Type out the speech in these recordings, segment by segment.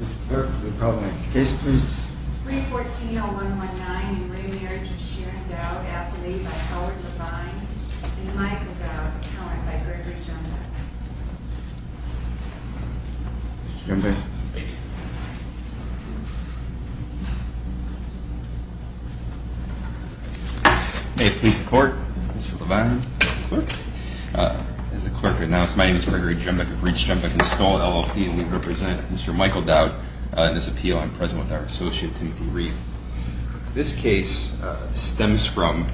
Mr. Clerk, will you call the next case, please? 314-0119, in re Marriage of Sheeran Dowd, affiliated by Howard Levine and Michael Dowd, powered by Gregory Jumbach. Mr. Jumbach. Thank you. May it please the Court, Mr. Levine. Clerk. As the Clerk announced, my name is Gregory Jumbach of Reach Jumbach and Stoll, LLP, and we represent Mr. Michael Dowd in this appeal. I'm present with our associate, Timothy Reed. This case stems from,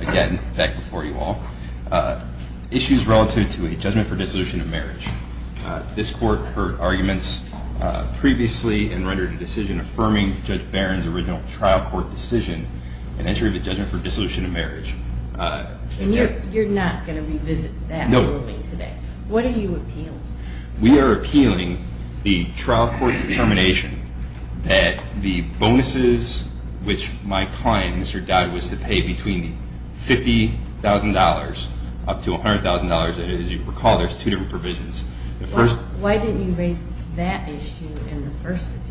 again, back before you all, issues relative to a judgment for dissolution of marriage. This Court heard arguments previously and rendered a decision affirming Judge Barron's original trial court decision in entry of a judgment for dissolution of marriage. And you're not going to revisit that ruling today? No. What are you appealing? We are appealing the trial court's determination that the bonuses, which my client, Mr. Dowd, was to pay between $50,000 up to $100,000, as you recall, there's two different provisions. Why didn't you raise that issue in the first appeal?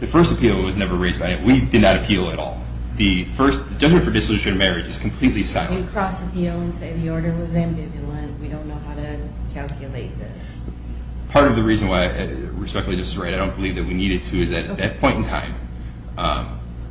The first appeal was never raised by him. We did not appeal at all. The first judgment for dissolution of marriage is completely silent. Why didn't you cross appeal and say the order was ambivalent? We don't know how to calculate this. Part of the reason why I respectfully disagree, I don't believe that we needed to, is that at that point in time,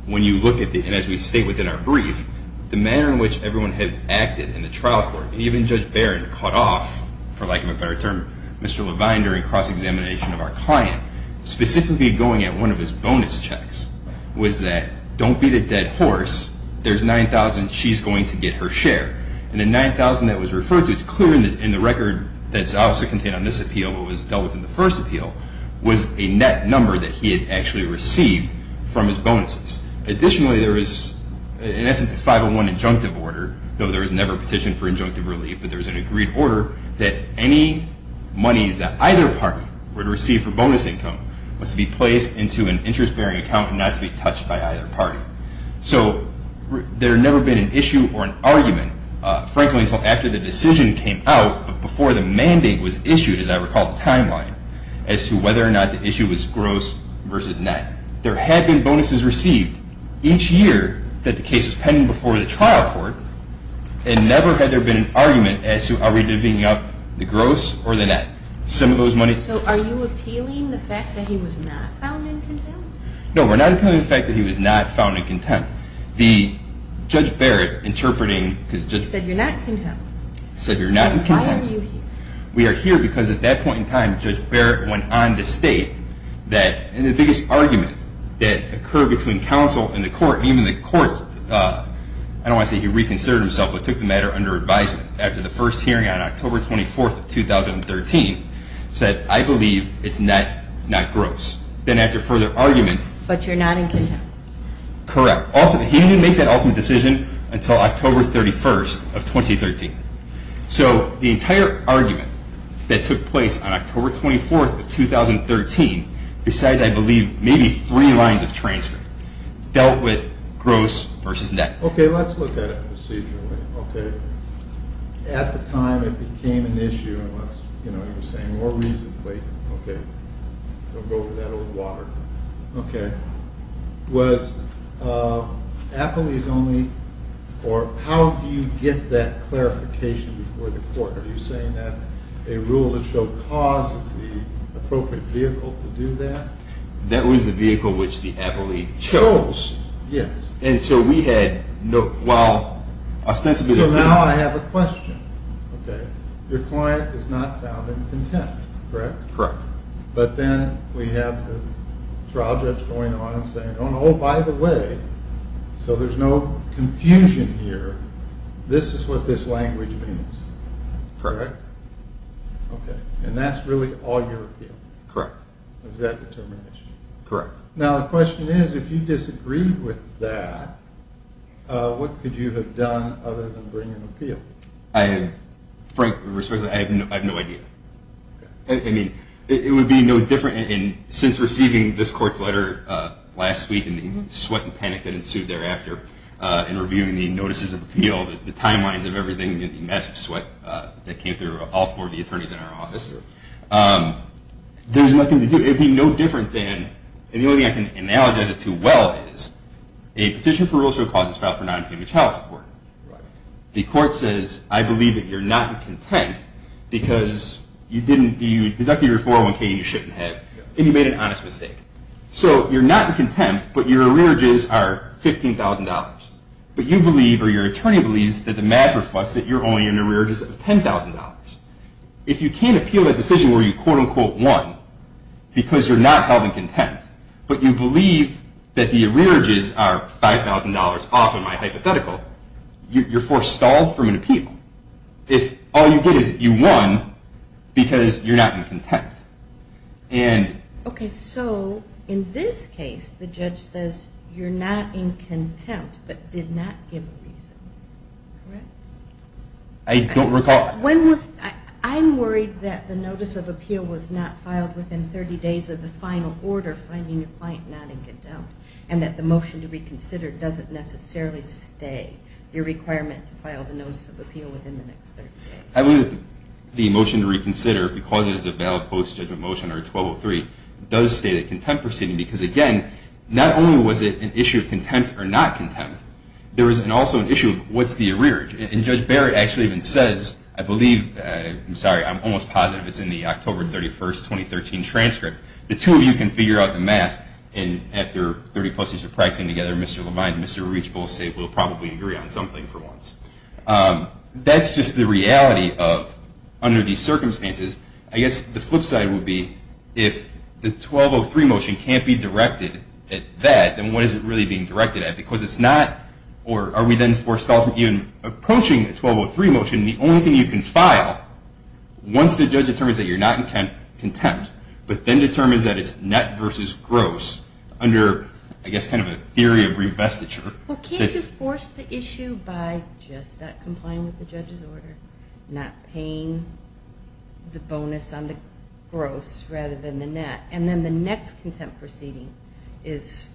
when you look at the, and as we state within our brief, the manner in which everyone had acted in the trial court, and even Judge Barron cut off, for lack of a better term, Mr. Levine during cross-examination of our client, specifically going at one of his bonus checks, was that, don't beat a dead horse, there's $9,000, she's going to get her share. And the $9,000 that was referred to, it's clear in the record that's obviously contained on this appeal, but was dealt with in the first appeal, was a net number that he had actually received from his bonuses. Additionally, there is, in essence, a 501 injunctive order, though there was never a petition for injunctive relief, but there was an agreed order that any monies that either party were to receive for bonus income must be placed into an interest-bearing account and not to be touched by either party. So there had never been an issue or an argument, frankly, until after the decision came out, but before the mandate was issued, as I recall the timeline, as to whether or not the issue was gross versus net. There had been bonuses received each year that the case was pending before the trial court, and never had there been an argument as to are we divvying up the gross or the net. So are you appealing the fact that he was not found incontent? No, we're not appealing the fact that he was not found incontent. The Judge Barrett, interpreting... He said you're not incontent. He said you're not incontent. Why are you here? We are here because at that point in time, Judge Barrett went on to state that the biggest argument that occurred between counsel and the court, and even the court, I don't want to say he reconsidered himself, but took the matter under advisement, after the first hearing on October 24th of 2013, said, I believe it's not gross. Then after further argument... But you're not incontent. Correct. He didn't make that ultimate decision until October 31st of 2013. So the entire argument that took place on October 24th of 2013, besides, I believe, maybe three lines of transcript, dealt with gross versus net. Okay, let's look at it procedurally, okay? At the time it became an issue, and let's, you know, you were saying more recently, okay? Don't go over that old water. Okay. Was Appley's only, or how do you get that clarification before the court? Are you saying that a rule that showed cause is the appropriate vehicle to do that? That was the vehicle which the Appley chose. Yes. And so we had no, well, ostensibly... So now I have a question, okay? Your client is not found incontent, correct? Correct. But then we have the trial judge going on and saying, oh no, by the way, so there's no confusion here, this is what this language means. Correct. Okay. And that's really all your appeal? Correct. Was that determination? Correct. Now the question is, if you disagreed with that, what could you have done other than bring an appeal? Frankly, I have no idea. I mean, it would be no different, and since receiving this court's letter last week and the sweat and panic that ensued thereafter in reviewing the notices of appeal, the timelines of everything, the massive sweat that came through all four of the attorneys in our office, there's nothing to do. It would be no different than, and the only thing I can analogize it to well is, a petition for rule of show cause is filed for non-payment of child support. The court says, I believe that you're not content because you deducted your 401k and you shouldn't have, and you made an honest mistake. So you're not in contempt, but your arrearages are $15,000. But you believe, or your attorney believes, that the math reflects that you're only in arrearages of $10,000. If you can't appeal that decision where you quote-unquote won because you're not held in contempt, but you believe that the arrearages are $5,000 off in my hypothetical, you're forestalled from an appeal. If all you get is that you won because you're not in contempt. Okay, so in this case the judge says you're not in contempt, but did not give a reason, correct? I don't recall. I'm worried that the notice of appeal was not filed within 30 days of the final order finding your client not in contempt, and that the motion to reconsider doesn't necessarily stay. Your requirement to file the notice of appeal within the next 30 days. I believe that the motion to reconsider, because it is a valid post-judgment motion or 1203, does stay the contempt proceeding. Because again, not only was it an issue of contempt or not contempt, there was also an issue of what's the arrearage. And Judge Barrett actually even says, I believe, I'm sorry, I'm almost positive it's in the October 31, 2013 transcript. The two of you can figure out the math, and after 30 postings of practicing together, Mr. Levine and Mr. Rich both say we'll probably agree on something for once. That's just the reality of, under these circumstances, I guess the flip side would be if the 1203 motion can't be directed at that, then what is it really being directed at? Because it's not, or are we then forced off of even approaching the 1203 motion, the only thing you can file once the judge determines that you're not in contempt, but then determines that it's net versus gross, under, I guess, kind of a theory of revestiture. Well, can't you force the issue by just not complying with the judge's order, not paying the bonus on the gross rather than the net, and then the next contempt proceeding is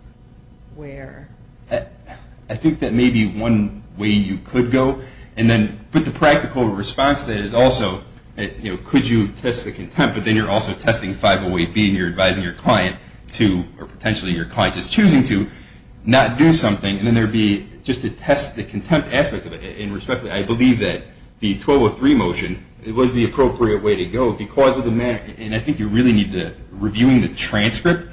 where? I think that may be one way you could go. But the practical response to that is also, could you test the contempt, but then you're also testing 508B, and you're advising your client to, or potentially your client is choosing to, not do something, and then there would be just to test the contempt aspect of it. And respectfully, I believe that the 1203 motion was the appropriate way to go because of the manner, and I think you really need to, reviewing the transcript,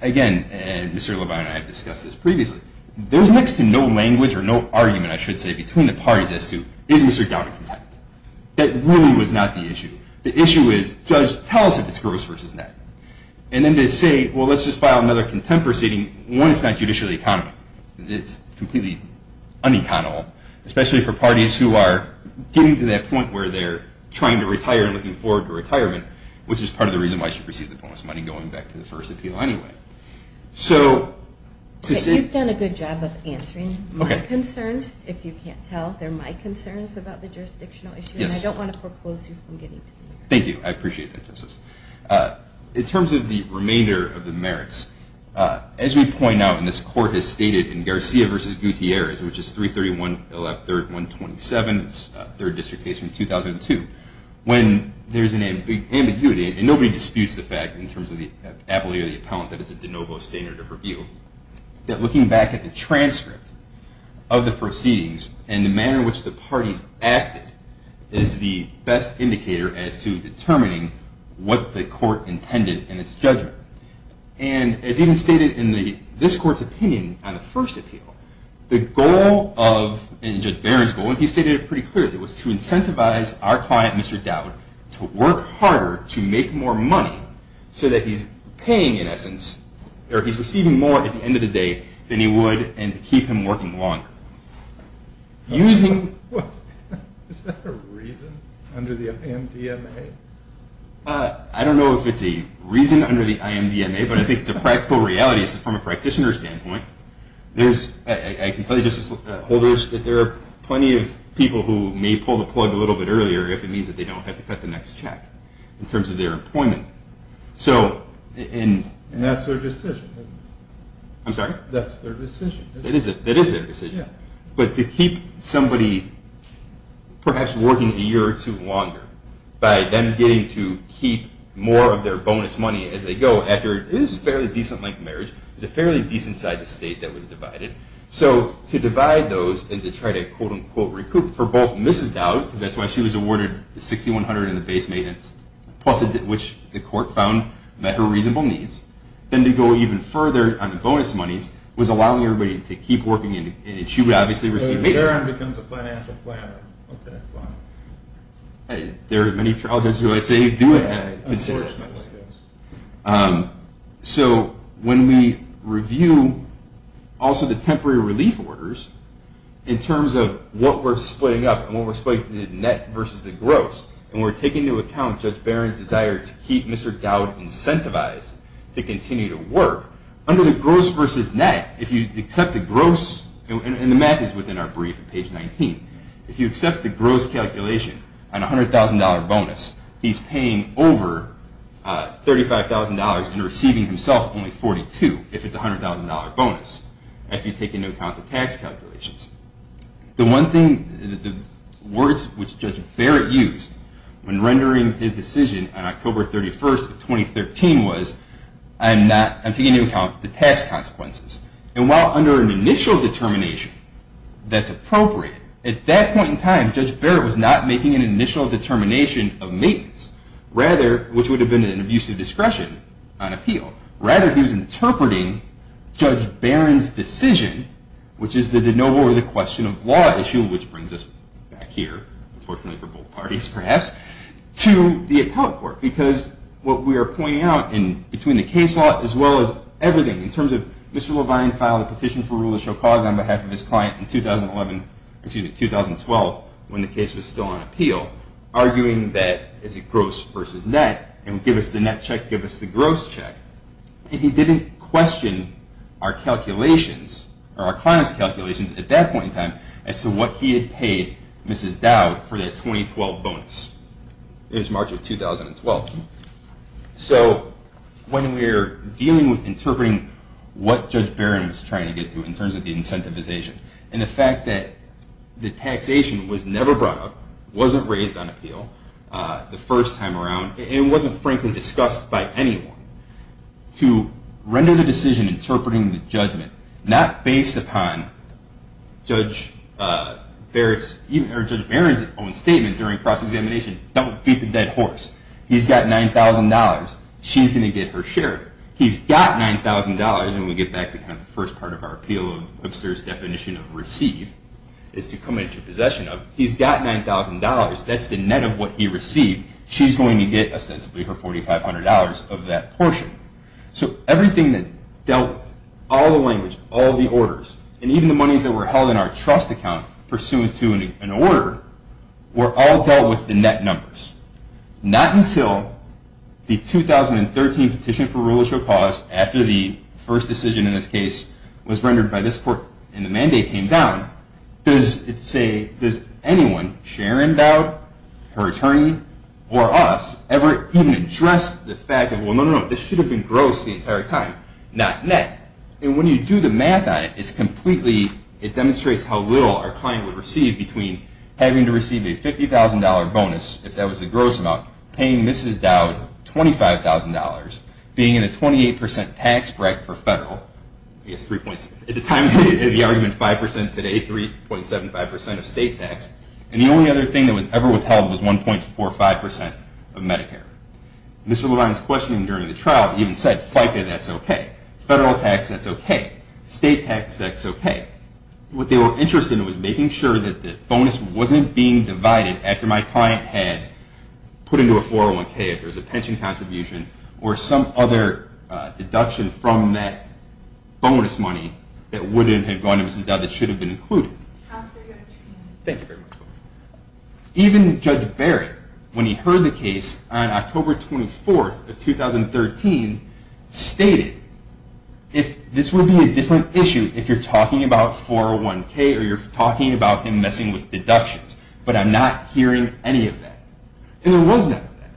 again, and Mr. Levine and I have discussed this previously, there was next to no language or no argument, I should say, between the parties as to, is Mr. Dowd in contempt? That really was not the issue. The issue is, judge, tell us if it's gross versus net. And then to say, well, let's just file another contempt proceeding, one, it's not judicially accountable. It's completely uneconomical, especially for parties who are getting to that point where they're trying to retire and looking forward to retirement, which is part of the reason why you should receive the bonus money going back to the first appeal anyway. You've done a good job of answering my concerns. If you can't tell, they're my concerns about the jurisdictional issue, and I don't want to propose you from getting to that. Thank you. I appreciate that, Justice. In terms of the remainder of the merits, as we point out, and this Court has stated in Garcia v. Gutierrez, which is 331-3127, it's a third district case from 2002, when there's an ambiguity, and nobody disputes the fact, in terms of the ability of the appellant, that it's a de novo standard of review, that looking back at the transcript of the proceedings and the manner in which the parties acted is the best indicator as to determining what the court intended in its judgment. And as even stated in this Court's opinion on the first appeal, the goal of, in Judge Barron's goal, and he stated it pretty clearly, was to incentivize our client, Mr. Dowd, to work harder to make more money, so that he's paying, in essence, or he's receiving more at the end of the day than he would, and to keep him working longer. Using... Is that a reason under the IMDMA? I don't know if it's a reason under the IMDMA, but I think it's a practical reality, from a practitioner's standpoint. I can tell you, Justice Holder, that there are plenty of people who may pull the plug a little bit earlier, if it means that they don't have to cut the next check, in terms of their employment. And that's their decision? I'm sorry? That's their decision. It is their decision. But to keep somebody perhaps working a year or two longer, by them getting to keep more of their bonus money as they go, after it is a fairly decent-length marriage, it's a fairly decent-sized estate that was divided. So to divide those, and to try to quote-unquote recoup, for both Mrs. Dowd, because that's why she was awarded the 6,100 in the base maintenance, plus which the court found met her reasonable needs, then to go even further on the bonus monies, was allowing everybody to keep working, and she would obviously receive maintenance. So if Barron becomes a financial planner, okay, fine. There are many trial judges who I'd say do have that concern. Unfortunately, yes. So when we review also the temporary relief orders, in terms of what we're splitting up, and what we're splitting up into the net versus the gross, and we're taking into account Judge Barron's desire to keep Mr. Dowd incentivized, to continue to work, under the gross versus net, if you accept the gross, and the math is within our brief at page 19, if you accept the gross calculation, on a $100,000 bonus, he's paying over $35,000, and receiving himself only $42,000, if it's a $100,000 bonus, if you take into account the tax calculations. The one thing, the words which Judge Barrett used, when rendering his decision on October 31st of 2013, was, I'm taking into account the tax consequences. And while under an initial determination, that's appropriate, at that point in time, Judge Barrett was not making an initial determination of maintenance, which would have been an abuse of discretion on appeal. Rather, he was interpreting Judge Barron's decision, which is the de novo or the question of law issue, which brings us back here, unfortunately for both parties perhaps, to the appellate court. Because what we are pointing out, and between the case law, as well as everything, in terms of Mr. Levine filed a petition for rule of show cause on behalf of his client in 2011, excuse me, 2012, when the case was still on appeal, arguing that it's a gross versus net, and give us the net check, give us the gross check. And he didn't question our calculations, or our client's calculations, at that point in time, as to what he had paid Mrs. Dowd for that 2012 bonus. It was March of 2012. So, when we're dealing with interpreting what Judge Barron was trying to get to, in terms of the incentivization, and the fact that the taxation was never brought up, wasn't raised on appeal, the first time around, and wasn't frankly discussed by anyone, to render the decision interpreting the judgment, not based upon Judge Barron's own statement during cross-examination, don't beat the dead horse. He's got $9,000. She's going to get her share. He's got $9,000, and we get back to the first part of our appeal, of Sir's definition of receive, is to come into possession of. He's got $9,000. That's the net of what he received. She's going to get, ostensibly, her $4,500 of that portion. So, everything that dealt with, all the language, all the orders, and even the monies that were held in our trust account, pursuant to an order, were all dealt with in net numbers. Not until the 2013 Petition for Rules of Cause, after the first decision in this case, was rendered by this court, and the mandate came down, does it say, does anyone, Sharon Dowd, her attorney, or us, ever even address the fact that, well, no, no, no, this should have been gross the entire time, not net. And when you do the math on it, it's completely, it demonstrates how little our client would receive between having to receive a $50,000 bonus, if that was the gross amount, paying Mrs. Dowd $25,000, being in a 28% tax break for federal, I guess three points, at the time, the argument 5% today, 3.75% of state tax, and the only other thing that was ever withheld was 1.45% of Medicare. Mr. Levine's question during the trial even said, FICA, that's OK. Federal tax, that's OK. State tax, that's OK. What they were interested in was making sure that the bonus wasn't being divided after my client had put into a 401k, if there was a pension contribution, or some other deduction from that bonus money that wouldn't have gone to Mrs. Dowd that should have been included. Thank you very much. Even Judge Barrett, when he heard the case on October 24th of 2013, stated, this would be a different issue if you're talking about 401k or you're talking about him messing with deductions, but I'm not hearing any of that. And there was none of that.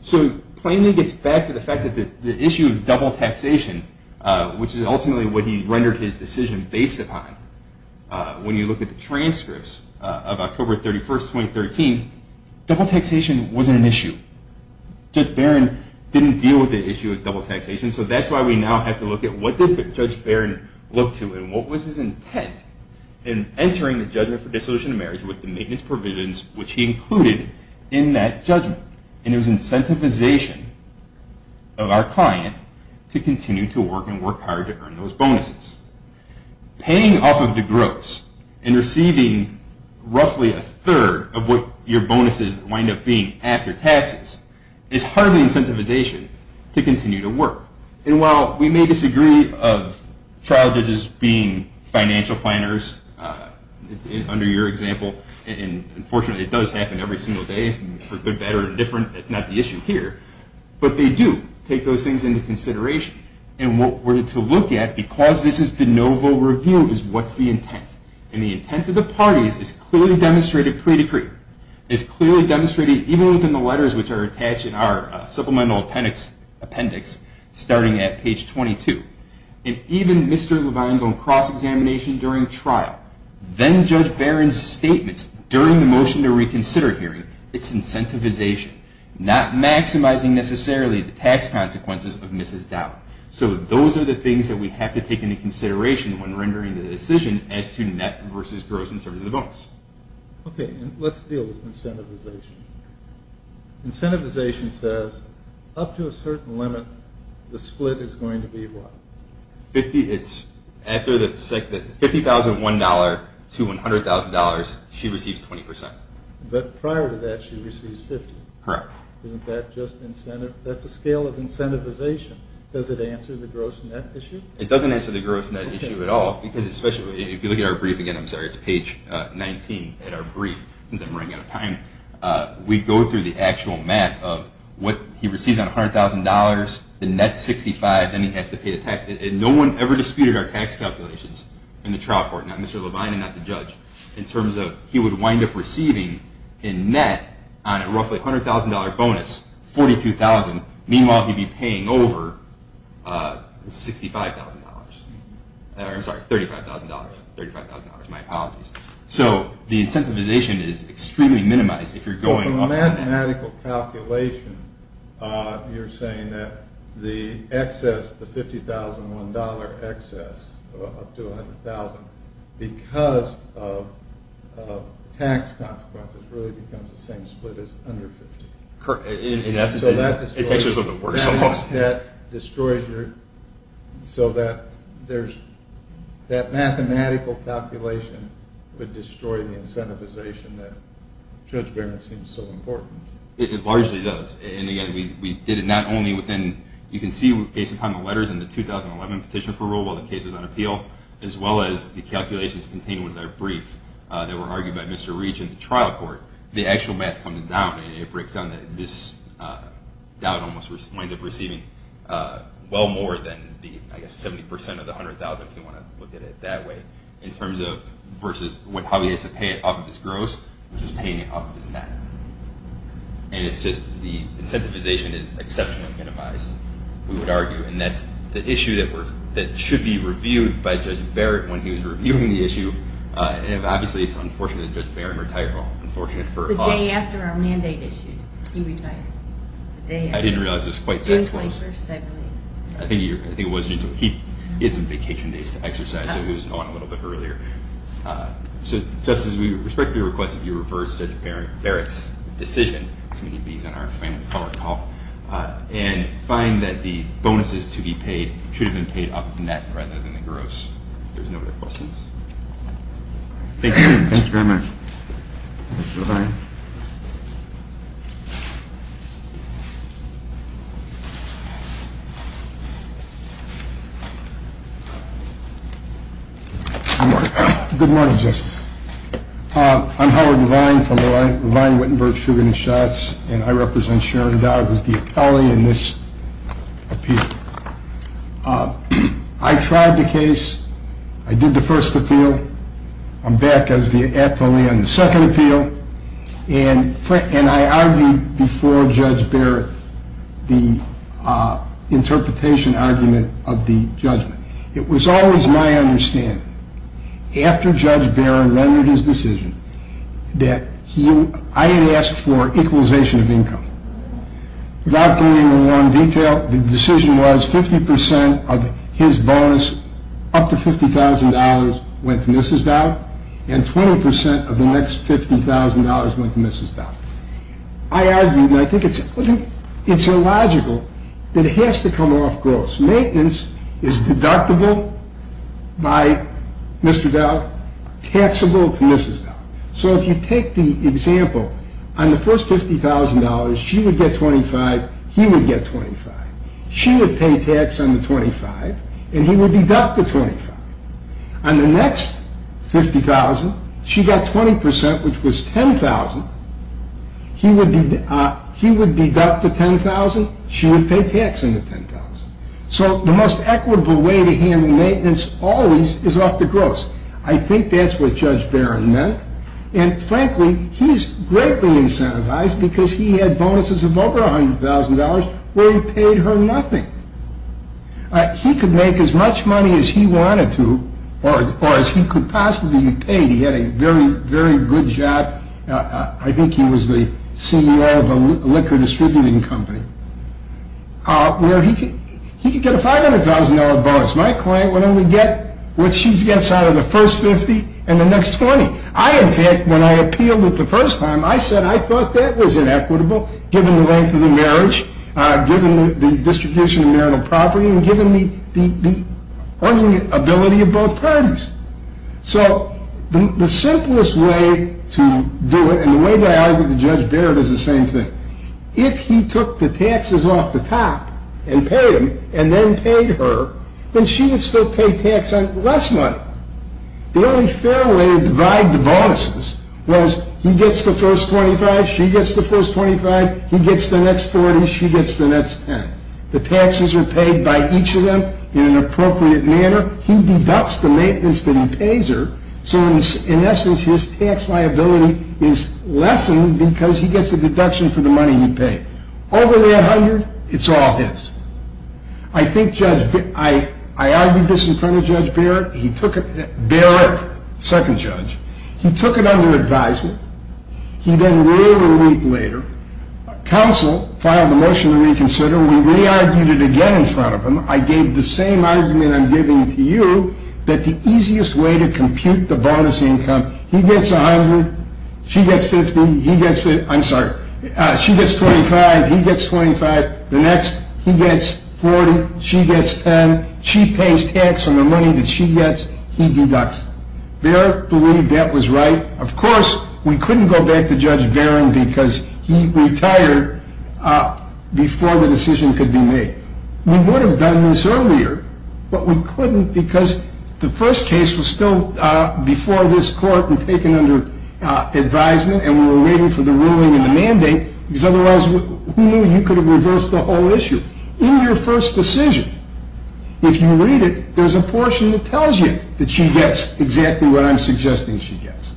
So it plainly gets back to the fact that the issue of double taxation, which is ultimately what he rendered his decision based upon, when you look at the transcripts of October 31st, 2013, double taxation wasn't an issue. Judge Barrett didn't deal with the issue of double taxation, so that's why we now have to look at what did Judge Barrett look to and what was his intent in entering the judgment for dissolution of marriage with the maintenance provisions which he included in that judgment. And it was incentivization of our client to continue to work and work hard to earn those bonuses. Paying off of the gross and receiving roughly a third of what your bonuses wind up being after taxes is hardly incentivization to continue to work. And while we may disagree of trial judges being financial planners, under your example, and unfortunately it does happen every single day for good, bad, or indifferent, it's not the issue here, but they do take those things into consideration. And what we're to look at, because this is de novo review, is what's the intent. And the intent of the parties is clearly demonstrated pre-decree. It's clearly demonstrated, even within the letters which are attached in our supplemental appendix starting at page 22. And even Mr. Levine's own cross-examination during trial, then Judge Barron's statements during the motion to reconsider hearing, it's incentivization, not maximizing necessarily the tax consequences of Mrs. Dow. So those are the things that we have to take into consideration when rendering the decision as to net versus gross in terms of the bonus. Okay, let's deal with incentivization. Incentivization says, up to a certain limit, the split is going to be what? 50, it's after the, $50,001 to $100,000, she receives 20%. But prior to that she receives 50. Correct. Isn't that just incentive? That's a scale of incentivization. Does it answer the gross net issue? It doesn't answer the gross net issue at all, because especially, if you look at our brief again, I'm sorry, it's page 19 in our brief, since I'm running out of time, we go through the actual math of what he receives on $100,000, the net 65, then he has to pay the tax, and no one ever disputed our tax calculations in the trial court, not Mr. Levine and not the judge, in terms of he would wind up receiving in net on a roughly $100,000 bonus, $42,000, meanwhile he'd be paying over $65,000. I'm sorry, $35,000. $35,000, my apologies. So the incentivization is extremely minimized if you're going off the net. From a mathematical calculation, you're saying that the excess, the $50,001 excess, up to $100,000, because of tax consequences really becomes the same split as under $50,000. Correct, in essence, it makes it a little bit worse almost. That destroys your, so that there's, that mathematical calculation would destroy the incentivization that Judge Barrett seems so important. It largely does. And again, we did it not only within, you can see based upon the letters in the 2011 petition for rule while the case was on appeal, as well as the calculations contained within our brief that were argued by Mr. Reach in the trial court, the actual math comes down, and it breaks down that this doubt almost winds up receiving well more than the, I guess, 70% of the $100,000 if you want to look at it that way, in terms of versus how he has to pay it off of his gross, versus paying it off of his math. And it's just, the incentivization is exceptionally minimized, we would argue. And that's the issue that should be reviewed by Judge Barrett when he was reviewing the issue. Obviously, it's unfortunate that Judge Barrett retired. Unfortunate for us. The day after our mandate issued, he retired. I didn't realize it was quite that close. June 21st, I believe. I think it was June 21st. He had some vacation days to exercise, so he was gone a little bit earlier. So, Justice, we respectfully request that you reverse Judge Barrett's decision, when he leaves on our final call, and find that the bonuses to be paid should have been paid off of the net, rather than the gross. If there's no other questions. Thank you. Thank you very much. Goodbye. Good morning, Justice. I'm Howard Levine from Levine, Wittenberg, Sugar and Shots, and I represent Sharon Dowd as the appellee in this appeal. I tried the case. I did the first appeal. I'm back as the appellee on the second appeal. And I argued before Judge Barrett the interpretation argument of the judgment. It was always my understanding, after Judge Barrett rendered his decision, that I had asked for equalization of income. Without going into more detail, the decision was 50% of his bonus, up to $50,000, went to Mrs. Dowd, and 20% of the next $50,000 went to Mrs. Dowd. I argued, and I think it's illogical, that it has to come off gross. Maintenance is deductible by Mr. Dowd, taxable to Mrs. Dowd. So if you take the example, on the first $50,000, she would get $25,000, he would get $25,000. She would pay tax on the $25,000, and he would deduct the $25,000. On the next $50,000, she got 20%, which was $10,000. He would deduct the $10,000. She would pay tax on the $10,000. So the most equitable way to handle maintenance always is off the gross. I think that's what Judge Barrett meant. And frankly, he's greatly incentivized because he had bonuses of over $100,000 where he paid her nothing. He could make as much money as he wanted to, or as he could possibly be paid. He had a very, very good job. I think he was the CEO of a liquor distributing company where he could get a $500,000 bonus. My client would only get what she gets out of the first $50,000 and the next $20,000. I, in fact, when I appealed it the first time, I said I thought that was inequitable given the length of the marriage, given the distribution of marital property, and given the ability of both parties. So the simplest way to do it, and the way that I argued to Judge Barrett is the same thing. If he took the taxes off the top and paid them and then paid her, then she would still pay tax on less money. The only fair way to divide the bonuses was he gets the first $25,000, she gets the first $25,000, he gets the next $40,000, she gets the next $10,000. The taxes are paid by each of them in an appropriate manner. He deducts the maintenance that he pays her, so in essence his tax liability is lessened because he gets a deduction for the money he paid. Over the $100,000, it's all his. I argued this in front of Judge Barrett. Barrett, second judge. He took it under advisement. He then ruled a week later. Counsel filed a motion to reconsider. We re-argued it again in front of him. I gave the same argument I'm giving to you that the easiest way to compute the bonus income he gets $100,000, she gets $50,000, he gets $50,000, I'm sorry, she gets $25,000, he gets $25,000, the next he gets $40,000, she gets $10,000, she pays tax on the money that she gets, he deducts. Barrett believed that was right. Of course, we couldn't go back to Judge Barrett because he retired before the decision could be made. We would have done this earlier, but we couldn't because the first case was still before this court and taken under advisement and we were waiting for the ruling and the mandate because otherwise, who knew you could have reversed the whole issue? In your first decision, if you read it, there's a portion that tells you that she gets exactly what I'm suggesting she gets.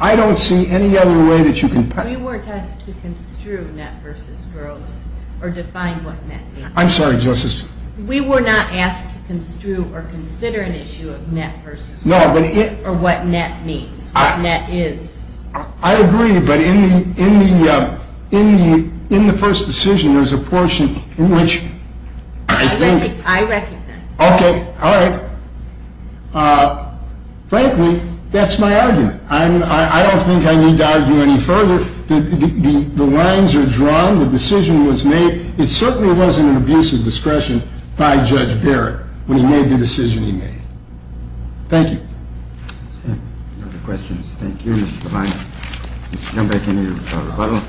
I don't see any other way that you can... We were asked to construe net versus gross or define what net means. I'm sorry, Justice. We were not asked to construe or consider an issue of net versus gross or what net means, what net is. I agree, but in the first decision, there's a portion in which I think... I recognize that. Okay. All right. Frankly, that's my argument. I don't think I need to argue any further. The lines are drawn. The decision was made. It certainly wasn't an abuse of discretion by Judge Barrett when he made the decision he made. Thank you. Any other questions? Thank you, Mr. Levine. We'll come back in a little while.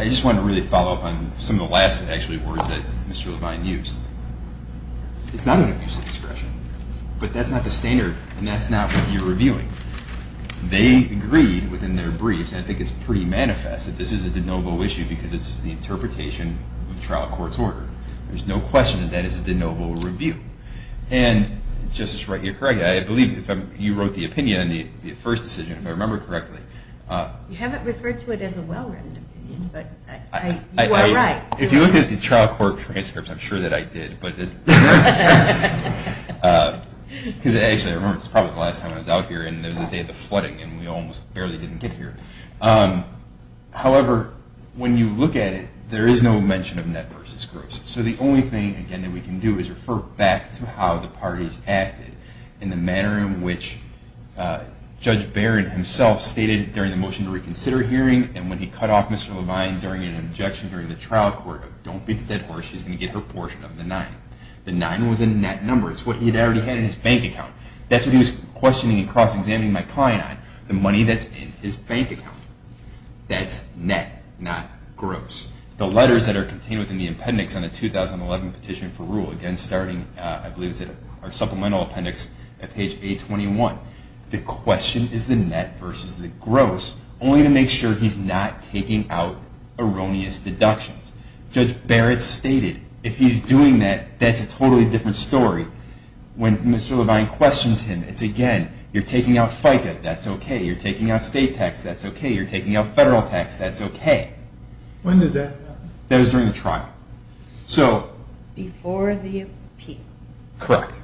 I just want to really follow up on some of the last actually words that Mr. Levine used. It's not an abuse of discretion, but that's not the standard, and that's not what you're reviewing. They agreed within their briefs, and I think it's pretty manifest, that this is a de novo issue because it's the interpretation of the trial court's order. There's no question that that is a de novo review. And, Justice Wright, you're correct. I believe you wrote the opinion on the first decision, if I remember correctly. You haven't referred to it as a well-written opinion, but you are right. If you looked at the trial court transcripts, I'm sure that I did. Actually, I remember, it was probably the last time I was out here, and it was the day of the flooding, and we almost barely didn't get here. However, when you look at it, there is no mention of net versus gross. So the only thing, again, that we can do is refer back to how the parties acted in the manner in which Judge Barron himself stated during the motion to reconsider hearing, and when he cut off Mr. Levine during an objection during the trial court, don't beat the dead horse, she's going to get her portion of the nine. The nine was a net number. It's what he had already had in his bank account. That's what he was questioning and cross-examining my client on, the money that's in his bank account. That's net, not gross. The letters that are contained within the appendix on the 2011 petition for rule, again, starting, I believe, is it our supplemental appendix at page 821, the question is the net versus the gross, only to make sure he's not taking out erroneous deductions. Judge Barron stated, if he's doing that, that's a totally different story. When Mr. Levine questions him, it's again, you're taking out FICA, that's okay, you're taking out state tax, that's okay, you're taking out federal tax, that's okay. When did that happen? That was during the trial. Before the appeal. Correct.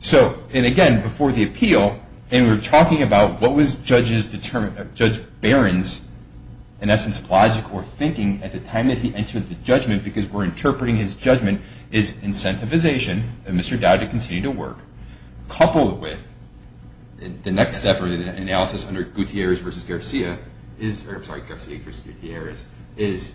So, and again, before the appeal, and we were talking about what was Judge Barron's, in essence, logic or thinking at the time that he entered the judgment, because we're interpreting his judgment, is incentivization, and Mr. Dowdy continued to work. Coupled with, the next step of the analysis under Garcia versus Gutierrez, is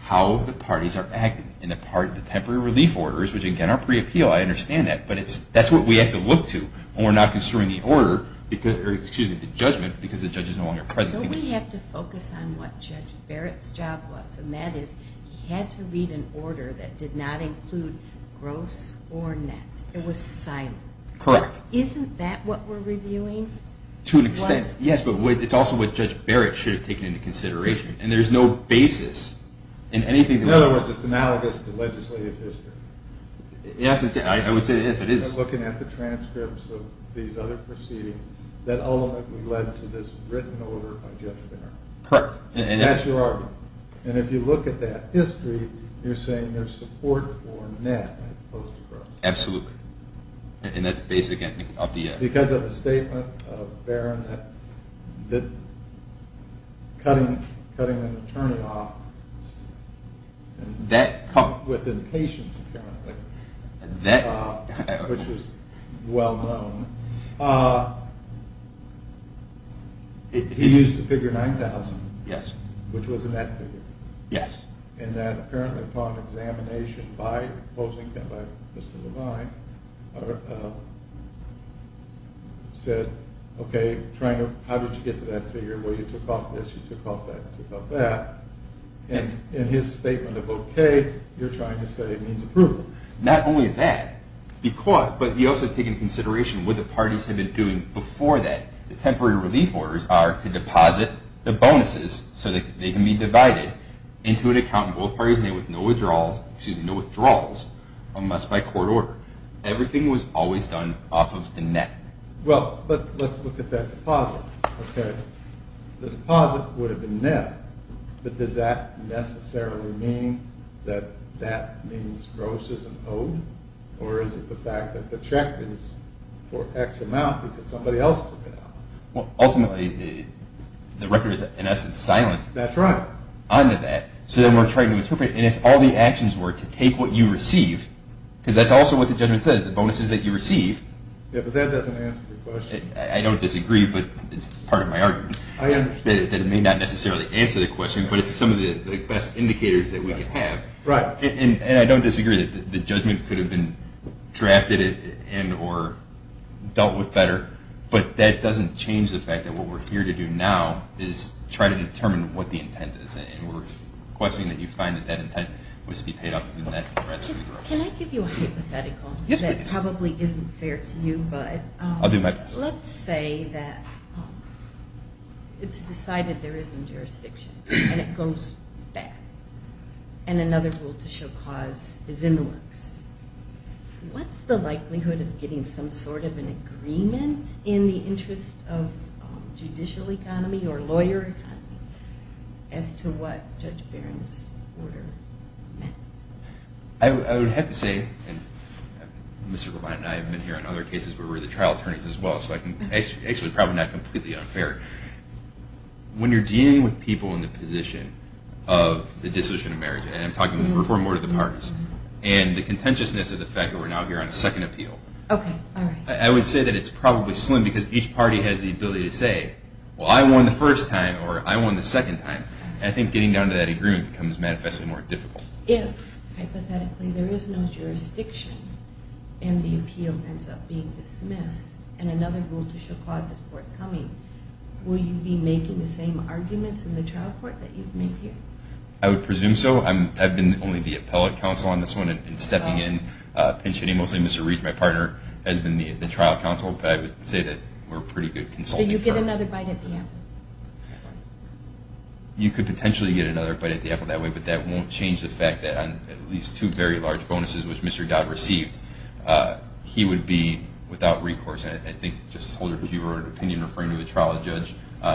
how the parties are acting in the part of the temporary relief orders, which again, are pre-appeal, I understand that, but that's what we have to look to when we're not construing the order, or excuse me, the judgment, because the judge is no longer present. So we have to focus on what Judge Barrett's job was, and that is, he had to read an order that did not include gross or net. It was silent. Correct. Isn't that what we're reviewing? To an extent, yes, but it's also what Judge Barrett should have taken into consideration, and there's no basis in anything. In other words, it's analogous to legislative history. Yes, I would say it is. Looking at the transcripts of these other proceedings, that ultimately led to this written order by Judge Barrett. Correct. And that's your argument. And if you look at that history, you're saying there's support for net as opposed to gross. Absolutely. And that's basically up to you. Because of the statement of Barrett that cutting an attorney off with impatience apparently, which is well known, he used the figure 9,000, which was a net figure. Yes. And that apparently upon examination by opposing him, by Mr. Levine, said, okay, how did you get to that figure? Well, you took off this, you took off that, you took off that. And in his statement of okay, you're trying to say it means approval. Not only that, but he also took into consideration what the parties had been doing before that. The temporary relief orders are to deposit the bonuses so that they can be divided into an account in both parties' name with no withdrawals unless by court order. Everything was always done off of the net. Well, let's look at that deposit. Okay. The deposit would have been net. But does that necessarily mean that that means gross is an owed? Or is it the fact that the check is for X amount because somebody else took it out? Well, ultimately, the record is in essence silent. That's right. On to that. So then we're trying to interpret and if all the actions were to take what you receive, because that's also what the judgment says, the bonuses that you receive. Yeah, but that doesn't answer the question. I don't disagree, but it's part of my argument. I understand. That it may not necessarily answer the question, but it's some of the best indicators that we could have. Right. And I don't disagree that the judgment could have been drafted and or dealt with better, but that doesn't change the fact that what we're here to do now is try to determine what the intent is. And we're requesting that you find that that intent must be paid up in that regimen. Can I give you a hypothetical? Yes, please. That probably isn't fair to you, but let's say that it's decided there isn't jurisdiction and it goes back and another rule to show cause is in the works. What's the likelihood of getting some sort of an agreement in the interest of judicial economy or lawyer economy as to what Judge Barron's order meant? I would have to say, and Mr. Berlant and I have been here on other cases where we're the trial attorneys as well, so actually it's probably not completely unfair. When you're dealing with people in the position of the decision of marriage, and I'm talking the reform order of the parties, and the contentiousness of the fact that we're now here on second appeal, I would say that it's probably slim because each party has the ability to say, well, I won the first time or I won the second time. And I think getting down to that agreement becomes manifestly more difficult. If, hypothetically, there is no jurisdiction and the appeal ends up being dismissed and another rule to show cause is forthcoming, will you be making the same arguments in the trial court that you've made here? I would presume so. I've been only the appellate counsel on this one and stepping in, pinch-hitting mostly Mr. Reed, my partner, has been the trial counsel, but I would say that we're pretty good consultants. So you'd get another bite at the apple? You could potentially get another bite at the apple that way, but that won't change the fact that on at least two very large bonuses, which Mr. Dodd received, he would be without recourse. I think Justice Holder, if you were of opinion referring to the trial judge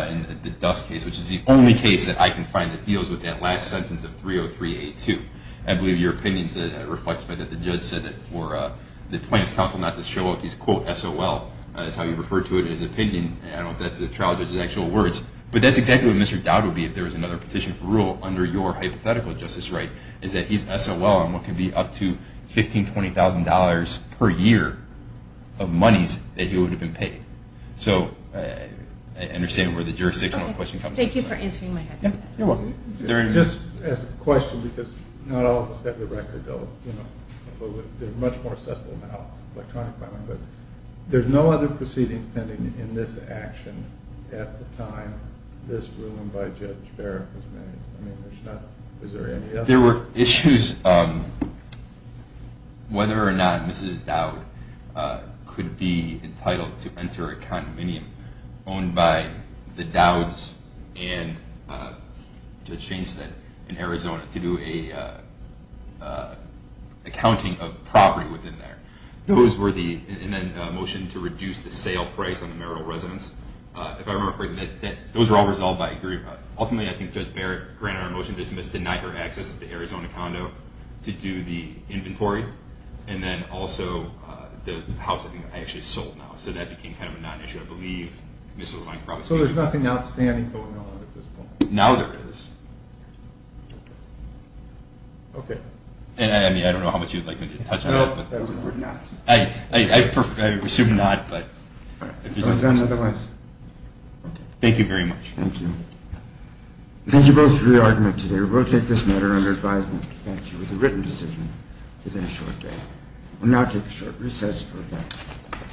in the Dust case, which is the only case that I can find that deals with that last sentence of 303A2, I believe your opinion is that it reflects the fact that the judge said that for the plaintiff's counsel not to show up, he's, quote, S.O.L. That's how he referred to it in his opinion and I don't know if that's the trial judge's actual words, but that's exactly what Mr. Dodd would be if there was another petition for rule under your hypothetical justice right, is that he's S.O.L. on what could be up to $15,000, $20,000 per year of monies that he would have been paid. So I understand where the jurisdictional question comes from. Thank you for answering my question. You're welcome. Just as a question, because not all of us have the record, although they're much more accessible now, electronic filing, but there's no other proceedings pending in this action at the time this ruling by Judge Barrett was made. I mean, there's not, is there any other? There were issues whether or not Mrs. Dodd could be entitled to enter a condominium owned by the Douds and Judge Chainstead in Arizona to do an accounting of property within there. Those were the, and then a motion to reduce the sale price on the marital residence. If I remember correctly, those were all resolved by agreement. Ultimately, I think Judge Barrett granted our motion, dismissed, denied her access to the Arizona condo to do the inventory and then also the house I think I actually sold now, so that became kind of a non-issue, I believe. So there's nothing outstanding going on at this point? Now there is. Okay. I mean, I don't know how much you'd like me to touch on that. No, we're not. I assume not, but if there's any questions. All right. Thank you very much. Thank you. Thank you both for your argument today. We will take this matter under advisement with a written decision within a short day. We'll now take a short recess for a moment.